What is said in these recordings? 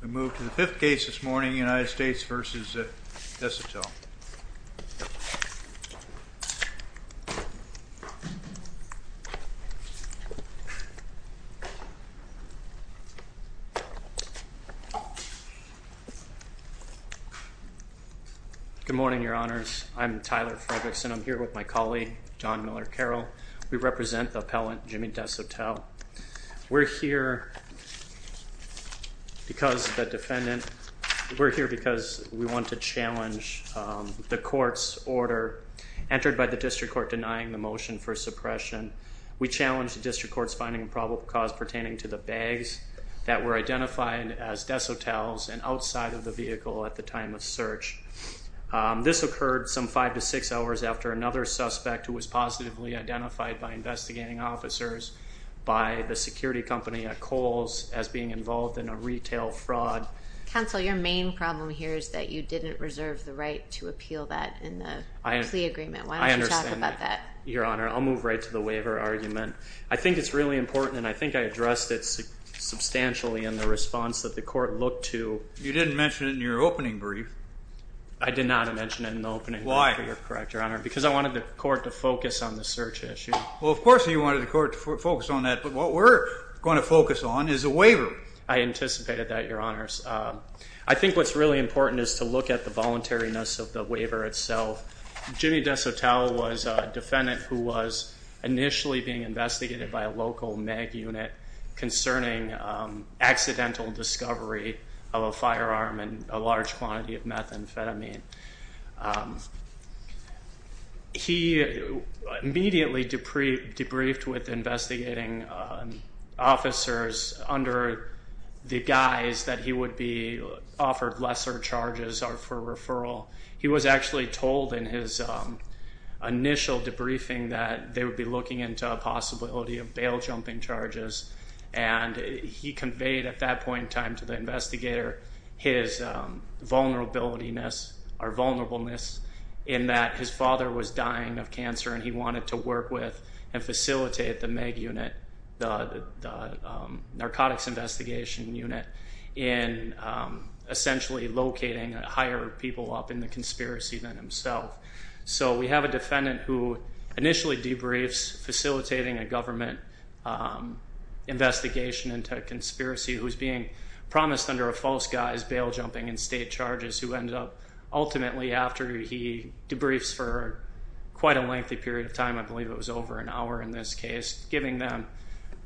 We move to the fifth case this morning, United States v. Desotell. Good morning, your honors. I'm Tyler Fredrickson. I'm here with my colleague, John Miller Carroll. We represent the appellant, Jimmy Desotell. We're here because the defendant, we're here because we want to challenge the court's order entered by the district court denying the motion for suppression. We challenge the district court's finding a probable cause pertaining to the bags that were identified as Desotell's and outside of the vehicle at the time of search. This occurred some five to six hours after another suspect who was positively identified by investigating officers by the security company at Kohl's as being involved in a retail fraud. Counsel, your main problem here is that you didn't reserve the right to appeal that in the plea agreement. Why don't you talk about that? Your honor, I'll move right to the waiver argument. I think it's really important and I think I addressed it substantially in the response that the court looked to. You didn't mention it in your opening brief. I did not mention it in the opening brief, if you're correct, your honor, because I wanted the court to focus on the search issue. Well, of course you wanted the court to focus on that, but what we're going to focus on is a waiver. I anticipated that, your honors. Um, I think what's really important is to look at the voluntariness of the waiver itself. Jimmy Desotell was a defendant who was initially being investigated by a local mag unit concerning, um, accidental discovery of a firearm and a large quantity of methamphetamine. Um, he immediately debriefed with investigating, um, officers under the guise that he would be offered lesser charges or for referral. He was actually told in his, um, initial debriefing that they would be looking into a possibility of bail jumping charges. And he conveyed at that point in time to investigator his, um, vulnerability-ness or vulnerableness in that his father was dying of cancer and he wanted to work with and facilitate the mag unit, the, the, um, narcotics investigation unit in, um, essentially locating a higher people up in the conspiracy than himself. So we have a defendant who initially debriefs facilitating a government, um, investigation into a honest under a false guise bail jumping and state charges who ended up ultimately after he debriefs for quite a lengthy period of time, I believe it was over an hour in this case, giving them,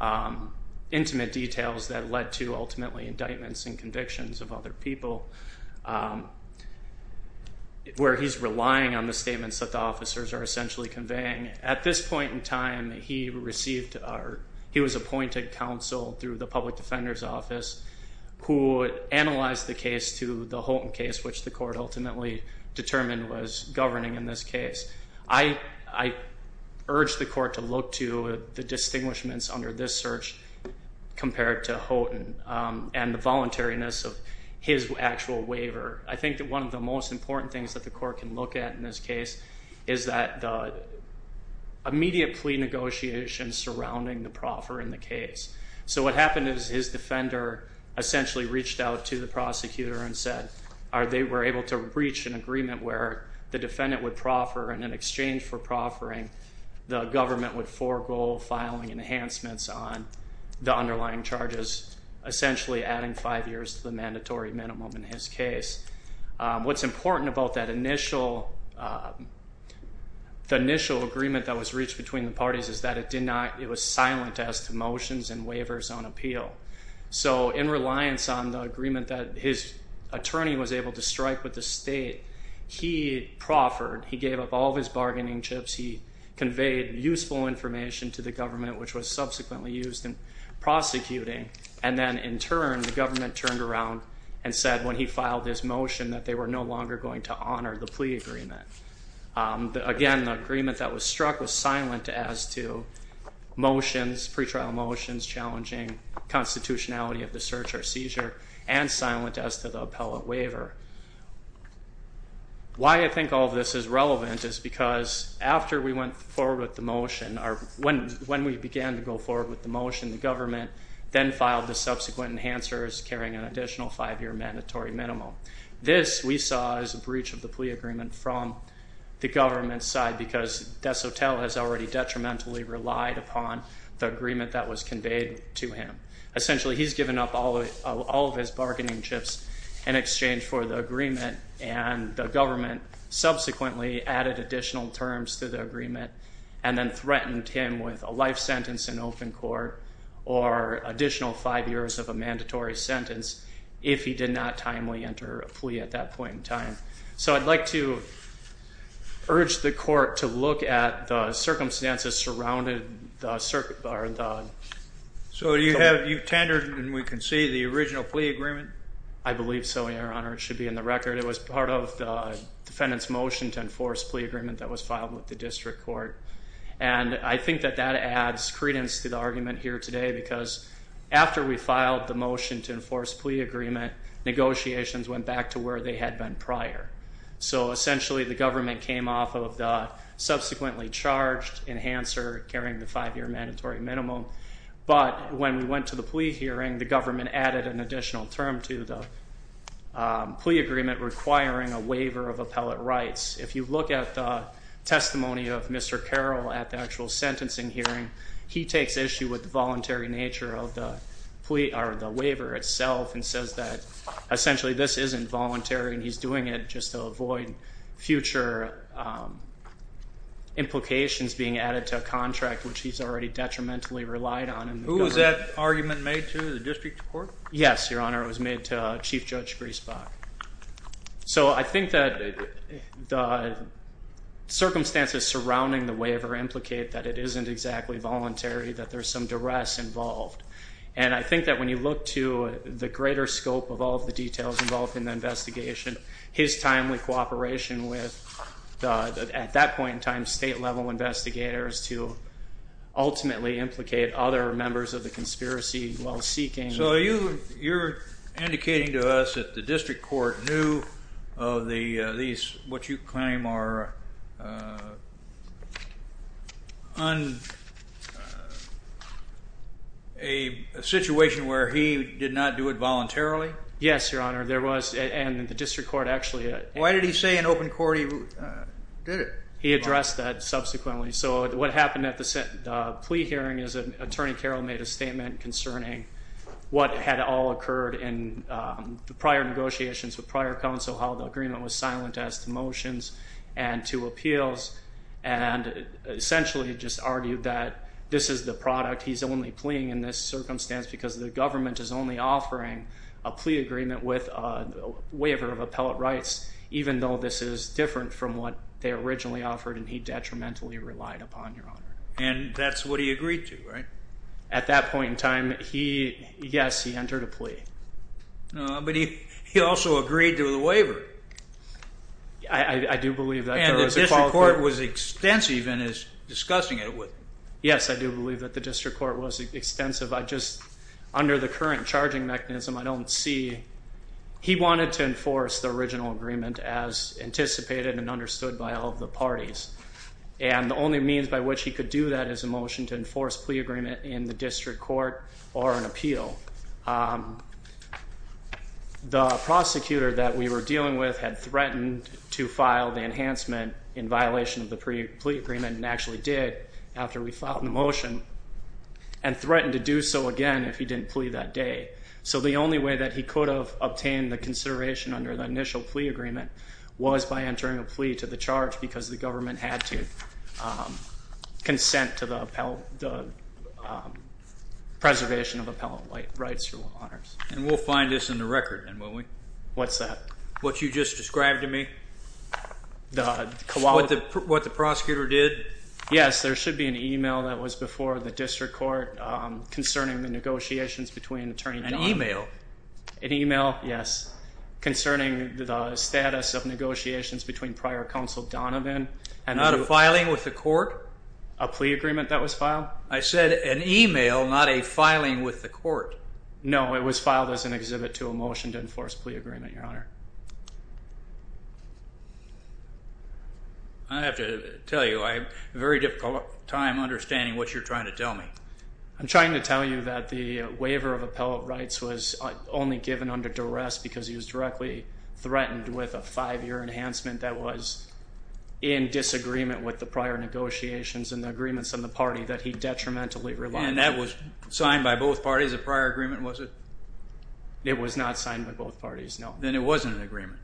um, intimate details that led to ultimately indictments and convictions of other people, um, where he's relying on the statements that the officers are essentially conveying. At this point in time, he received our, he was appointed counsel through the public defender's who analyzed the case to the Houghton case, which the court ultimately determined was governing in this case. I, I urged the court to look to the distinguishments under this search compared to Houghton, um, and the voluntariness of his actual waiver. I think that one of the most important things that the court can look at in this case is that the immediate plea negotiations surrounding the proffer in the case. So what happened is his defender essentially reached out to the prosecutor and said, are they were able to reach an agreement where the defendant would proffer and in exchange for proffering, the government would forego filing enhancements on the underlying charges, essentially adding five years to the mandatory minimum in his case. Um, what's important about that initial, uh, the initial agreement that was reached between the parties is that it did not, it was silent as to so in reliance on the agreement that his attorney was able to strike with the state, he proffered, he gave up all of his bargaining chips. He conveyed useful information to the government, which was subsequently used in prosecuting. And then in turn, the government turned around and said when he filed this motion that they were no longer going to honor the plea agreement. Um, again, the agreement that was struck was silent as to motions, pretrial motions, challenging constitutionality of the search or seizure and silent as to the appellate waiver. Why I think all of this is relevant is because after we went forward with the motion or when, when we began to go forward with the motion, the government then filed the subsequent enhancers carrying an additional five year mandatory minimum. This we saw as a breach of the plea agreement from the government side because DeSotel has already detrimentally relied upon the plea that was made to him. Essentially, he's given up all of his bargaining chips in exchange for the agreement and the government subsequently added additional terms to the agreement and then threatened him with a life sentence in open court or additional five years of a mandatory sentence if he did not timely enter a plea at that point in time. So I'd like to urge the court to look at the circumstances surrounded the circuit bar. So you have, you've tendered and we can see the original plea agreement. I believe so, your honor. It should be in the record. It was part of the defendant's motion to enforce plea agreement that was filed with the district court. And I think that that adds credence to the argument here today because after we filed the motion to enforce plea agreement, negotiations went back to where they had been prior. So essentially the government came off of the subsequently charged enhancer carrying the five year mandatory minimum. But when we went to the plea hearing, the government added an additional term to the plea agreement requiring a waiver of appellate rights. If you look at the testimony of Mr. Carroll at the actual sentencing hearing, he takes issue with the voluntary nature of the plea or the waiver itself and says that essentially this isn't voluntary and he's doing it just to avoid future implications being added to a contract which he's already detrimentally relied on. Who was that argument made to? The district court? Yes, your honor. It was made to Chief Judge Griesbach. So I think that the circumstances surrounding the waiver implicate that it isn't exactly voluntary, that there's some duress involved. And I think that when you look to the greater scope of all the details involved in the investigation, his timely cooperation with, at that point in time, state level investigators to ultimately implicate other members of the conspiracy while seeking. So you're indicating to us that the district court knew of these, what you claim are, a situation where he did not do it Your honor, there was, and the district court actually... Why did he say in open court he did it? He addressed that subsequently. So what happened at the plea hearing is that Attorney Carroll made a statement concerning what had all occurred in the prior negotiations with prior counsel, how the agreement was silent as to motions and to appeals, and essentially just argued that this is the product. He's only pleaing in this circumstance because the government is only offering a plea agreement with a waiver of appellate rights, even though this is different from what they originally offered, and he detrimentally relied upon, your honor. And that's what he agreed to, right? At that point in time, he, yes, he entered a plea. But he also agreed to the waiver. I do believe that. And the district court was extensive in discussing it with him. Yes, I do have a different charging mechanism. I don't see... He wanted to enforce the original agreement as anticipated and understood by all the parties, and the only means by which he could do that is a motion to enforce plea agreement in the district court or an appeal. The prosecutor that we were dealing with had threatened to file the enhancement in violation of the plea agreement, and actually did, after we didn't plea that day. So the only way that he could have obtained the consideration under the initial plea agreement was by entering a plea to the charge because the government had to consent to the preservation of appellate rights, your honor. And we'll find this in the record, then, won't we? What's that? What you just described to me? What the prosecutor did? Yes, there should be an email that was before the district court concerning the negotiations between attorney Donovan. An email? An email, yes, concerning the status of negotiations between prior counsel Donovan. Not a filing with the court? A plea agreement that was filed? I said an email, not a filing with the court. No, it was filed as an exhibit to a motion to enforce plea agreement, your honor. I have to tell you, I have a very difficult time understanding what you're trying to tell me. I'm trying to tell you that the waiver of appellate rights was only given under duress because he was directly threatened with a five-year enhancement that was in disagreement with the prior negotiations and the agreements in the party that he detrimentally relied on. And that was signed by both parties, a prior agreement, was it? It was not signed by both parties, no. Then it wasn't an agreement.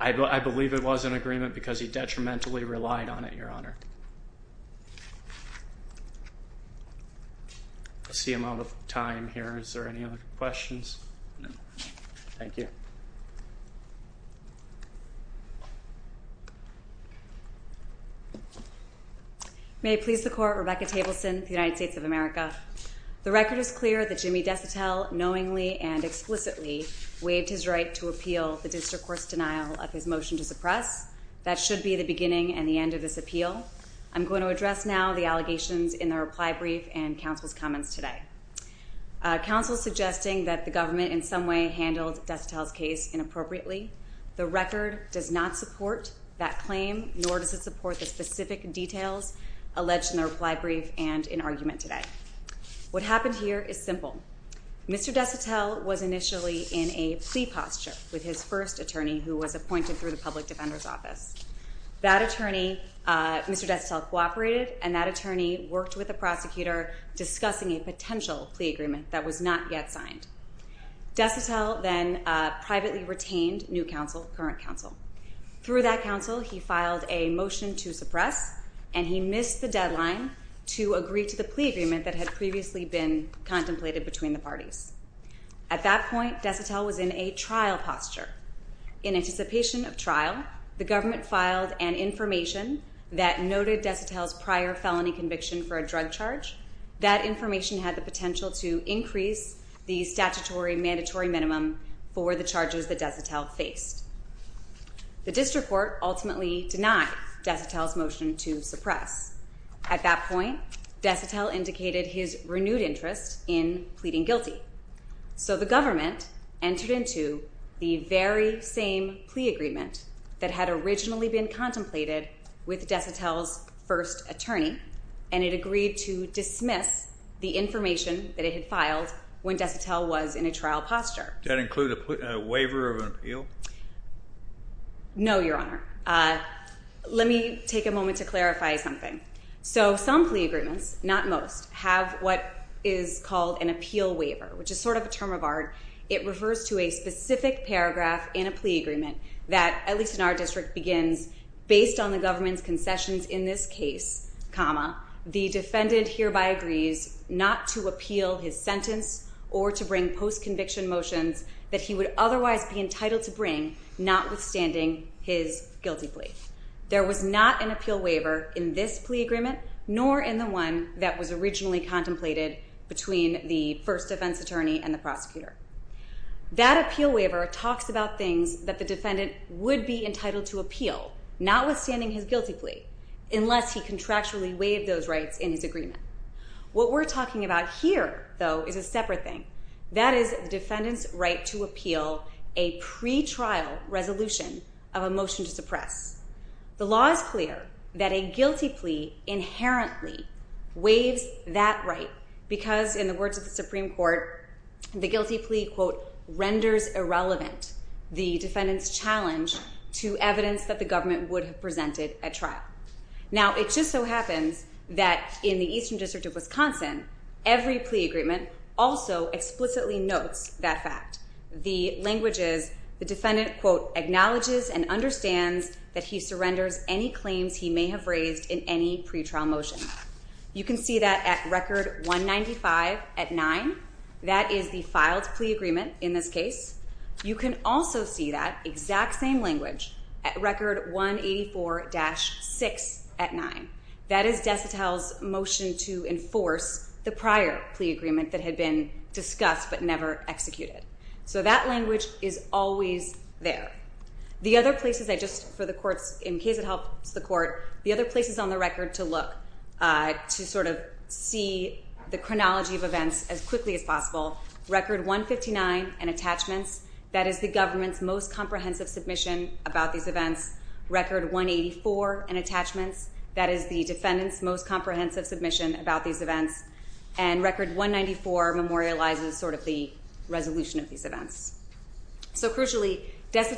I believe it was an agreement because he was threatened with a five-year enhancement. I see I'm out of time here. Is there any other questions? No. Thank you. May I please the court, Rebecca Tableson, the United States of America. The record is clear that Jimmy DeCitel knowingly and explicitly waived his right to appeal the district court's denial of his motion to suppress. That should be the beginning and the end of this appeal. I'm going to address now the allegations in the reply brief and counsel's comments today. Counsel's suggesting that the government in some way handled DeCitel's case inappropriately. The record does not support that claim, nor does it support the specific details alleged in the reply brief and in argument today. What happened here is simple. Mr. DeCitel was initially in a plea posture with his first attorney who was appointed through the Public Defender's Office. That attorney, Mr. DeCitel, cooperated and that attorney worked with the prosecutor discussing a potential plea agreement that was not yet signed. DeCitel then privately retained new counsel, current counsel. Through that counsel, he filed a motion to suppress and he missed the deadline to agree to the plea agreement that had previously been contemplated between the parties. At that point, DeCitel was in a trial posture. In anticipation of trial, the government filed an information that noted DeCitel's prior felony conviction for a drug charge. That information had the potential to increase the statutory mandatory minimum for the charges that DeCitel faced. The district court ultimately denied DeCitel's motion to suppress. At that point, DeCitel indicated his renewed interest in pleading guilty. So the government entered into the very same plea agreement that had originally been contemplated with DeCitel's first attorney and it agreed to dismiss the information that it had filed when DeCitel was in a trial posture. Did that include a waiver of an appeal? No, Your Honor. Let me take a moment to clarify something. So some plea agreements, not most, have what is called an appeal waiver, which is sort of a term of art. It refers to a specific paragraph in a plea agreement that, at least in our district, begins, based on the government's concessions in this case, comma, the defendant hereby agrees not to appeal his sentence or to bring post conviction motions that he would otherwise be entitled to bring, not withstanding his guilty plea. There was not an appeal waiver in this plea agreement, nor in the one that was originally contemplated between the first defense attorney and the prosecutor. That appeal waiver talks about things that the defendant would be entitled to appeal, not withstanding his guilty plea, unless he contractually waived those rights in his agreement. What we're talking about here, though, is a separate thing. That is the defendant's right to appeal a pretrial resolution of a motion to suppress. The law is clear that a guilty plea inherently waives that right, because, in the words of the Supreme Court, the guilty plea, quote, renders irrelevant the defendant's challenge to evidence that the government would have presented at trial. Now, it just so happens that in the Eastern District of Wisconsin, every plea agreement also explicitly notes that fact. The language is the same in any claims he may have raised in any pretrial motion. You can see that at record 195 at 9. That is the filed plea agreement in this case. You can also see that exact same language at record 184-6 at 9. That is DeSotel's motion to enforce the prior plea agreement that had been discussed but never executed. So that language is always there. The other places I just, for the courts, in case it helps the court, the other places on the record to look to sort of see the chronology of events as quickly as possible, record 159 and attachments. That is the government's most comprehensive submission about these events. Record 184 and attachments. That is the defendant's most comprehensive submission about these events. And record 194 memorializes sort of the resolution of these events. So that's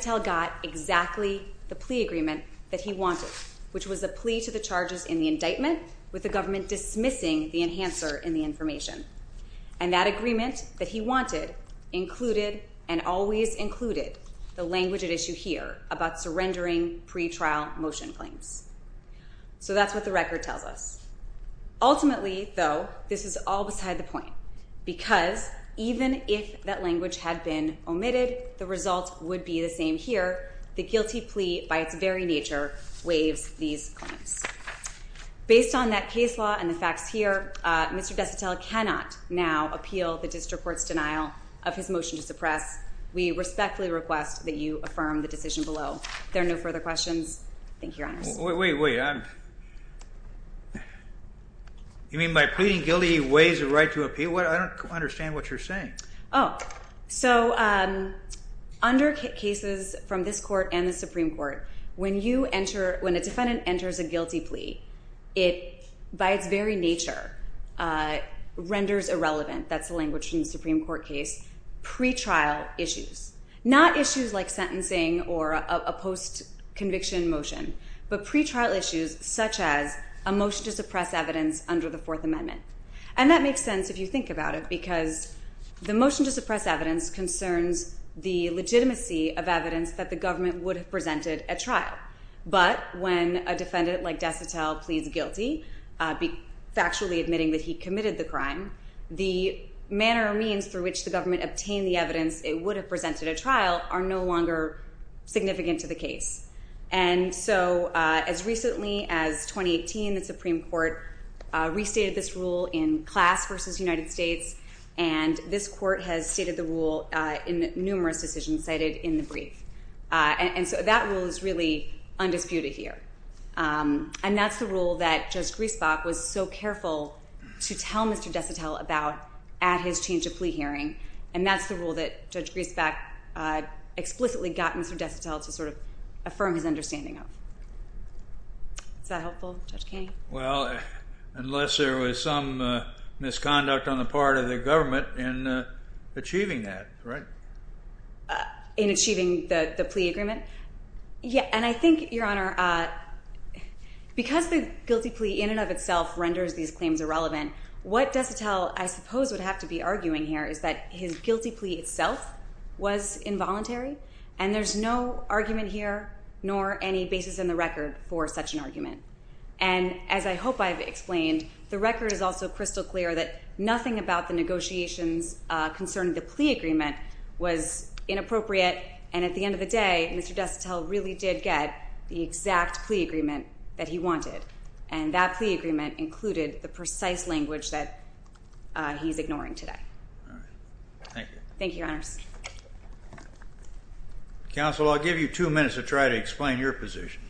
what the record tells us. Ultimately, though, this is all beside the point because even if that language had been omitted, the result would be the same here. The guilty plea, by its very nature, waives these claims. Based on that case law and the facts here, Mr. DeSotel cannot now appeal the district court's denial of his motion to suppress. We respectfully request that you affirm the decision below. If there are no further questions, thank you, Your Honors. Wait, wait, wait. You mean by pleading guilty, he waives the right to appeal? I don't understand what you're saying. Oh. So under cases from this court and the Supreme Court, when a defendant enters a guilty plea, it, by its very nature, renders irrelevant, that's the language from the Supreme Court case, pretrial issues. Not issues like sentencing or a post-conviction motion, but pretrial issues such as a motion to suppress evidence under the Fourth Amendment. And that makes sense if you The motion to suppress evidence concerns the legitimacy of evidence that the government would have presented at trial. But when a defendant like DeSotel pleads guilty, factually admitting that he committed the crime, the manner or means through which the government obtained the evidence it would have presented at trial are no longer significant to the case. And so as recently as 2018, the Supreme Court restated this rule in class versus United States. And this court has stated the rule in numerous decisions cited in the brief. And so that rule is really undisputed here. And that's the rule that Judge Griesbach was so careful to tell Mr. DeSotel about at his change of plea hearing. And that's the rule that Judge Griesbach explicitly got Mr. DeSotel to sort of affirm his understanding of. Is that helpful, Judge Griesbach? In achieving the plea agreement? Yeah. And I think, Your Honor, because the guilty plea in and of itself renders these claims irrelevant, what DeSotel, I suppose, would have to be arguing here is that his guilty plea itself was involuntary. And there's no argument here, nor any basis in the record for such an argument. And as I hope I've explained, the record is also crystal clear that nothing about the negotiations concerning the plea agreement was inappropriate. And at the end of the day, Mr. DeSotel really did get the exact plea agreement that he wanted. And that plea agreement included the precise language that he's ignoring today. Thank you, Your Honors. Counsel, I'll give you two minutes to try to explain your position.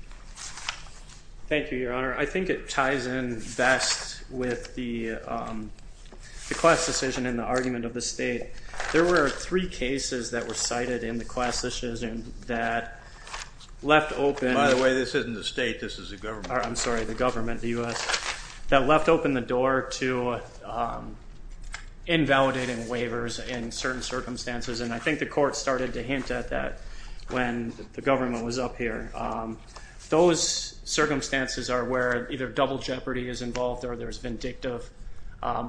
Thank you, Your Honor. I think it ties in best with the class decision and the argument of the state. There were three cases that were cited in the class decision that left open... By the way, this isn't the state, this is the government. I'm sorry, the government, the US, that left open the door to invalidating waivers in certain circumstances. And I think the court started to hint at that when the government was up here. Those circumstances are where either double jeopardy is involved or there's vindictive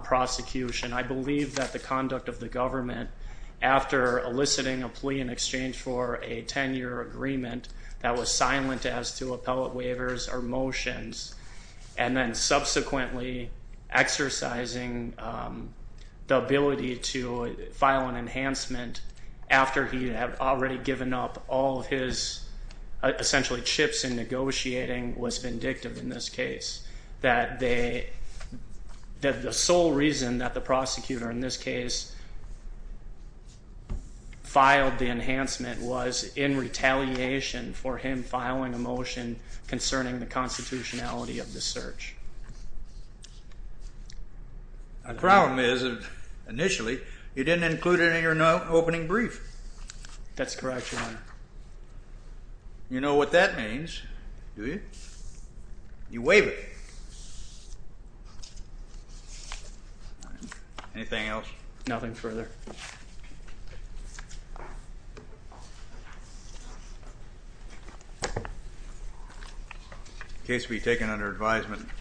prosecution. I believe that the conduct of the government, after eliciting a plea in exchange for a 10 year agreement that was silent as to appellate waivers or motions, and then subsequently exercising the ability to file an enhancement after he had already given up all of his, essentially, chips in negotiating, was vindictive in this case. That the sole reason that the prosecutor in this case filed the enhancement was in retaliation for him filing a motion concerning the constitutionality of the search. The problem is, initially, you didn't include it in your opening brief. That's correct, Your Honor. You know what that means, do you? You waive it. Anything else? Nothing further. The case will be taken under advisement.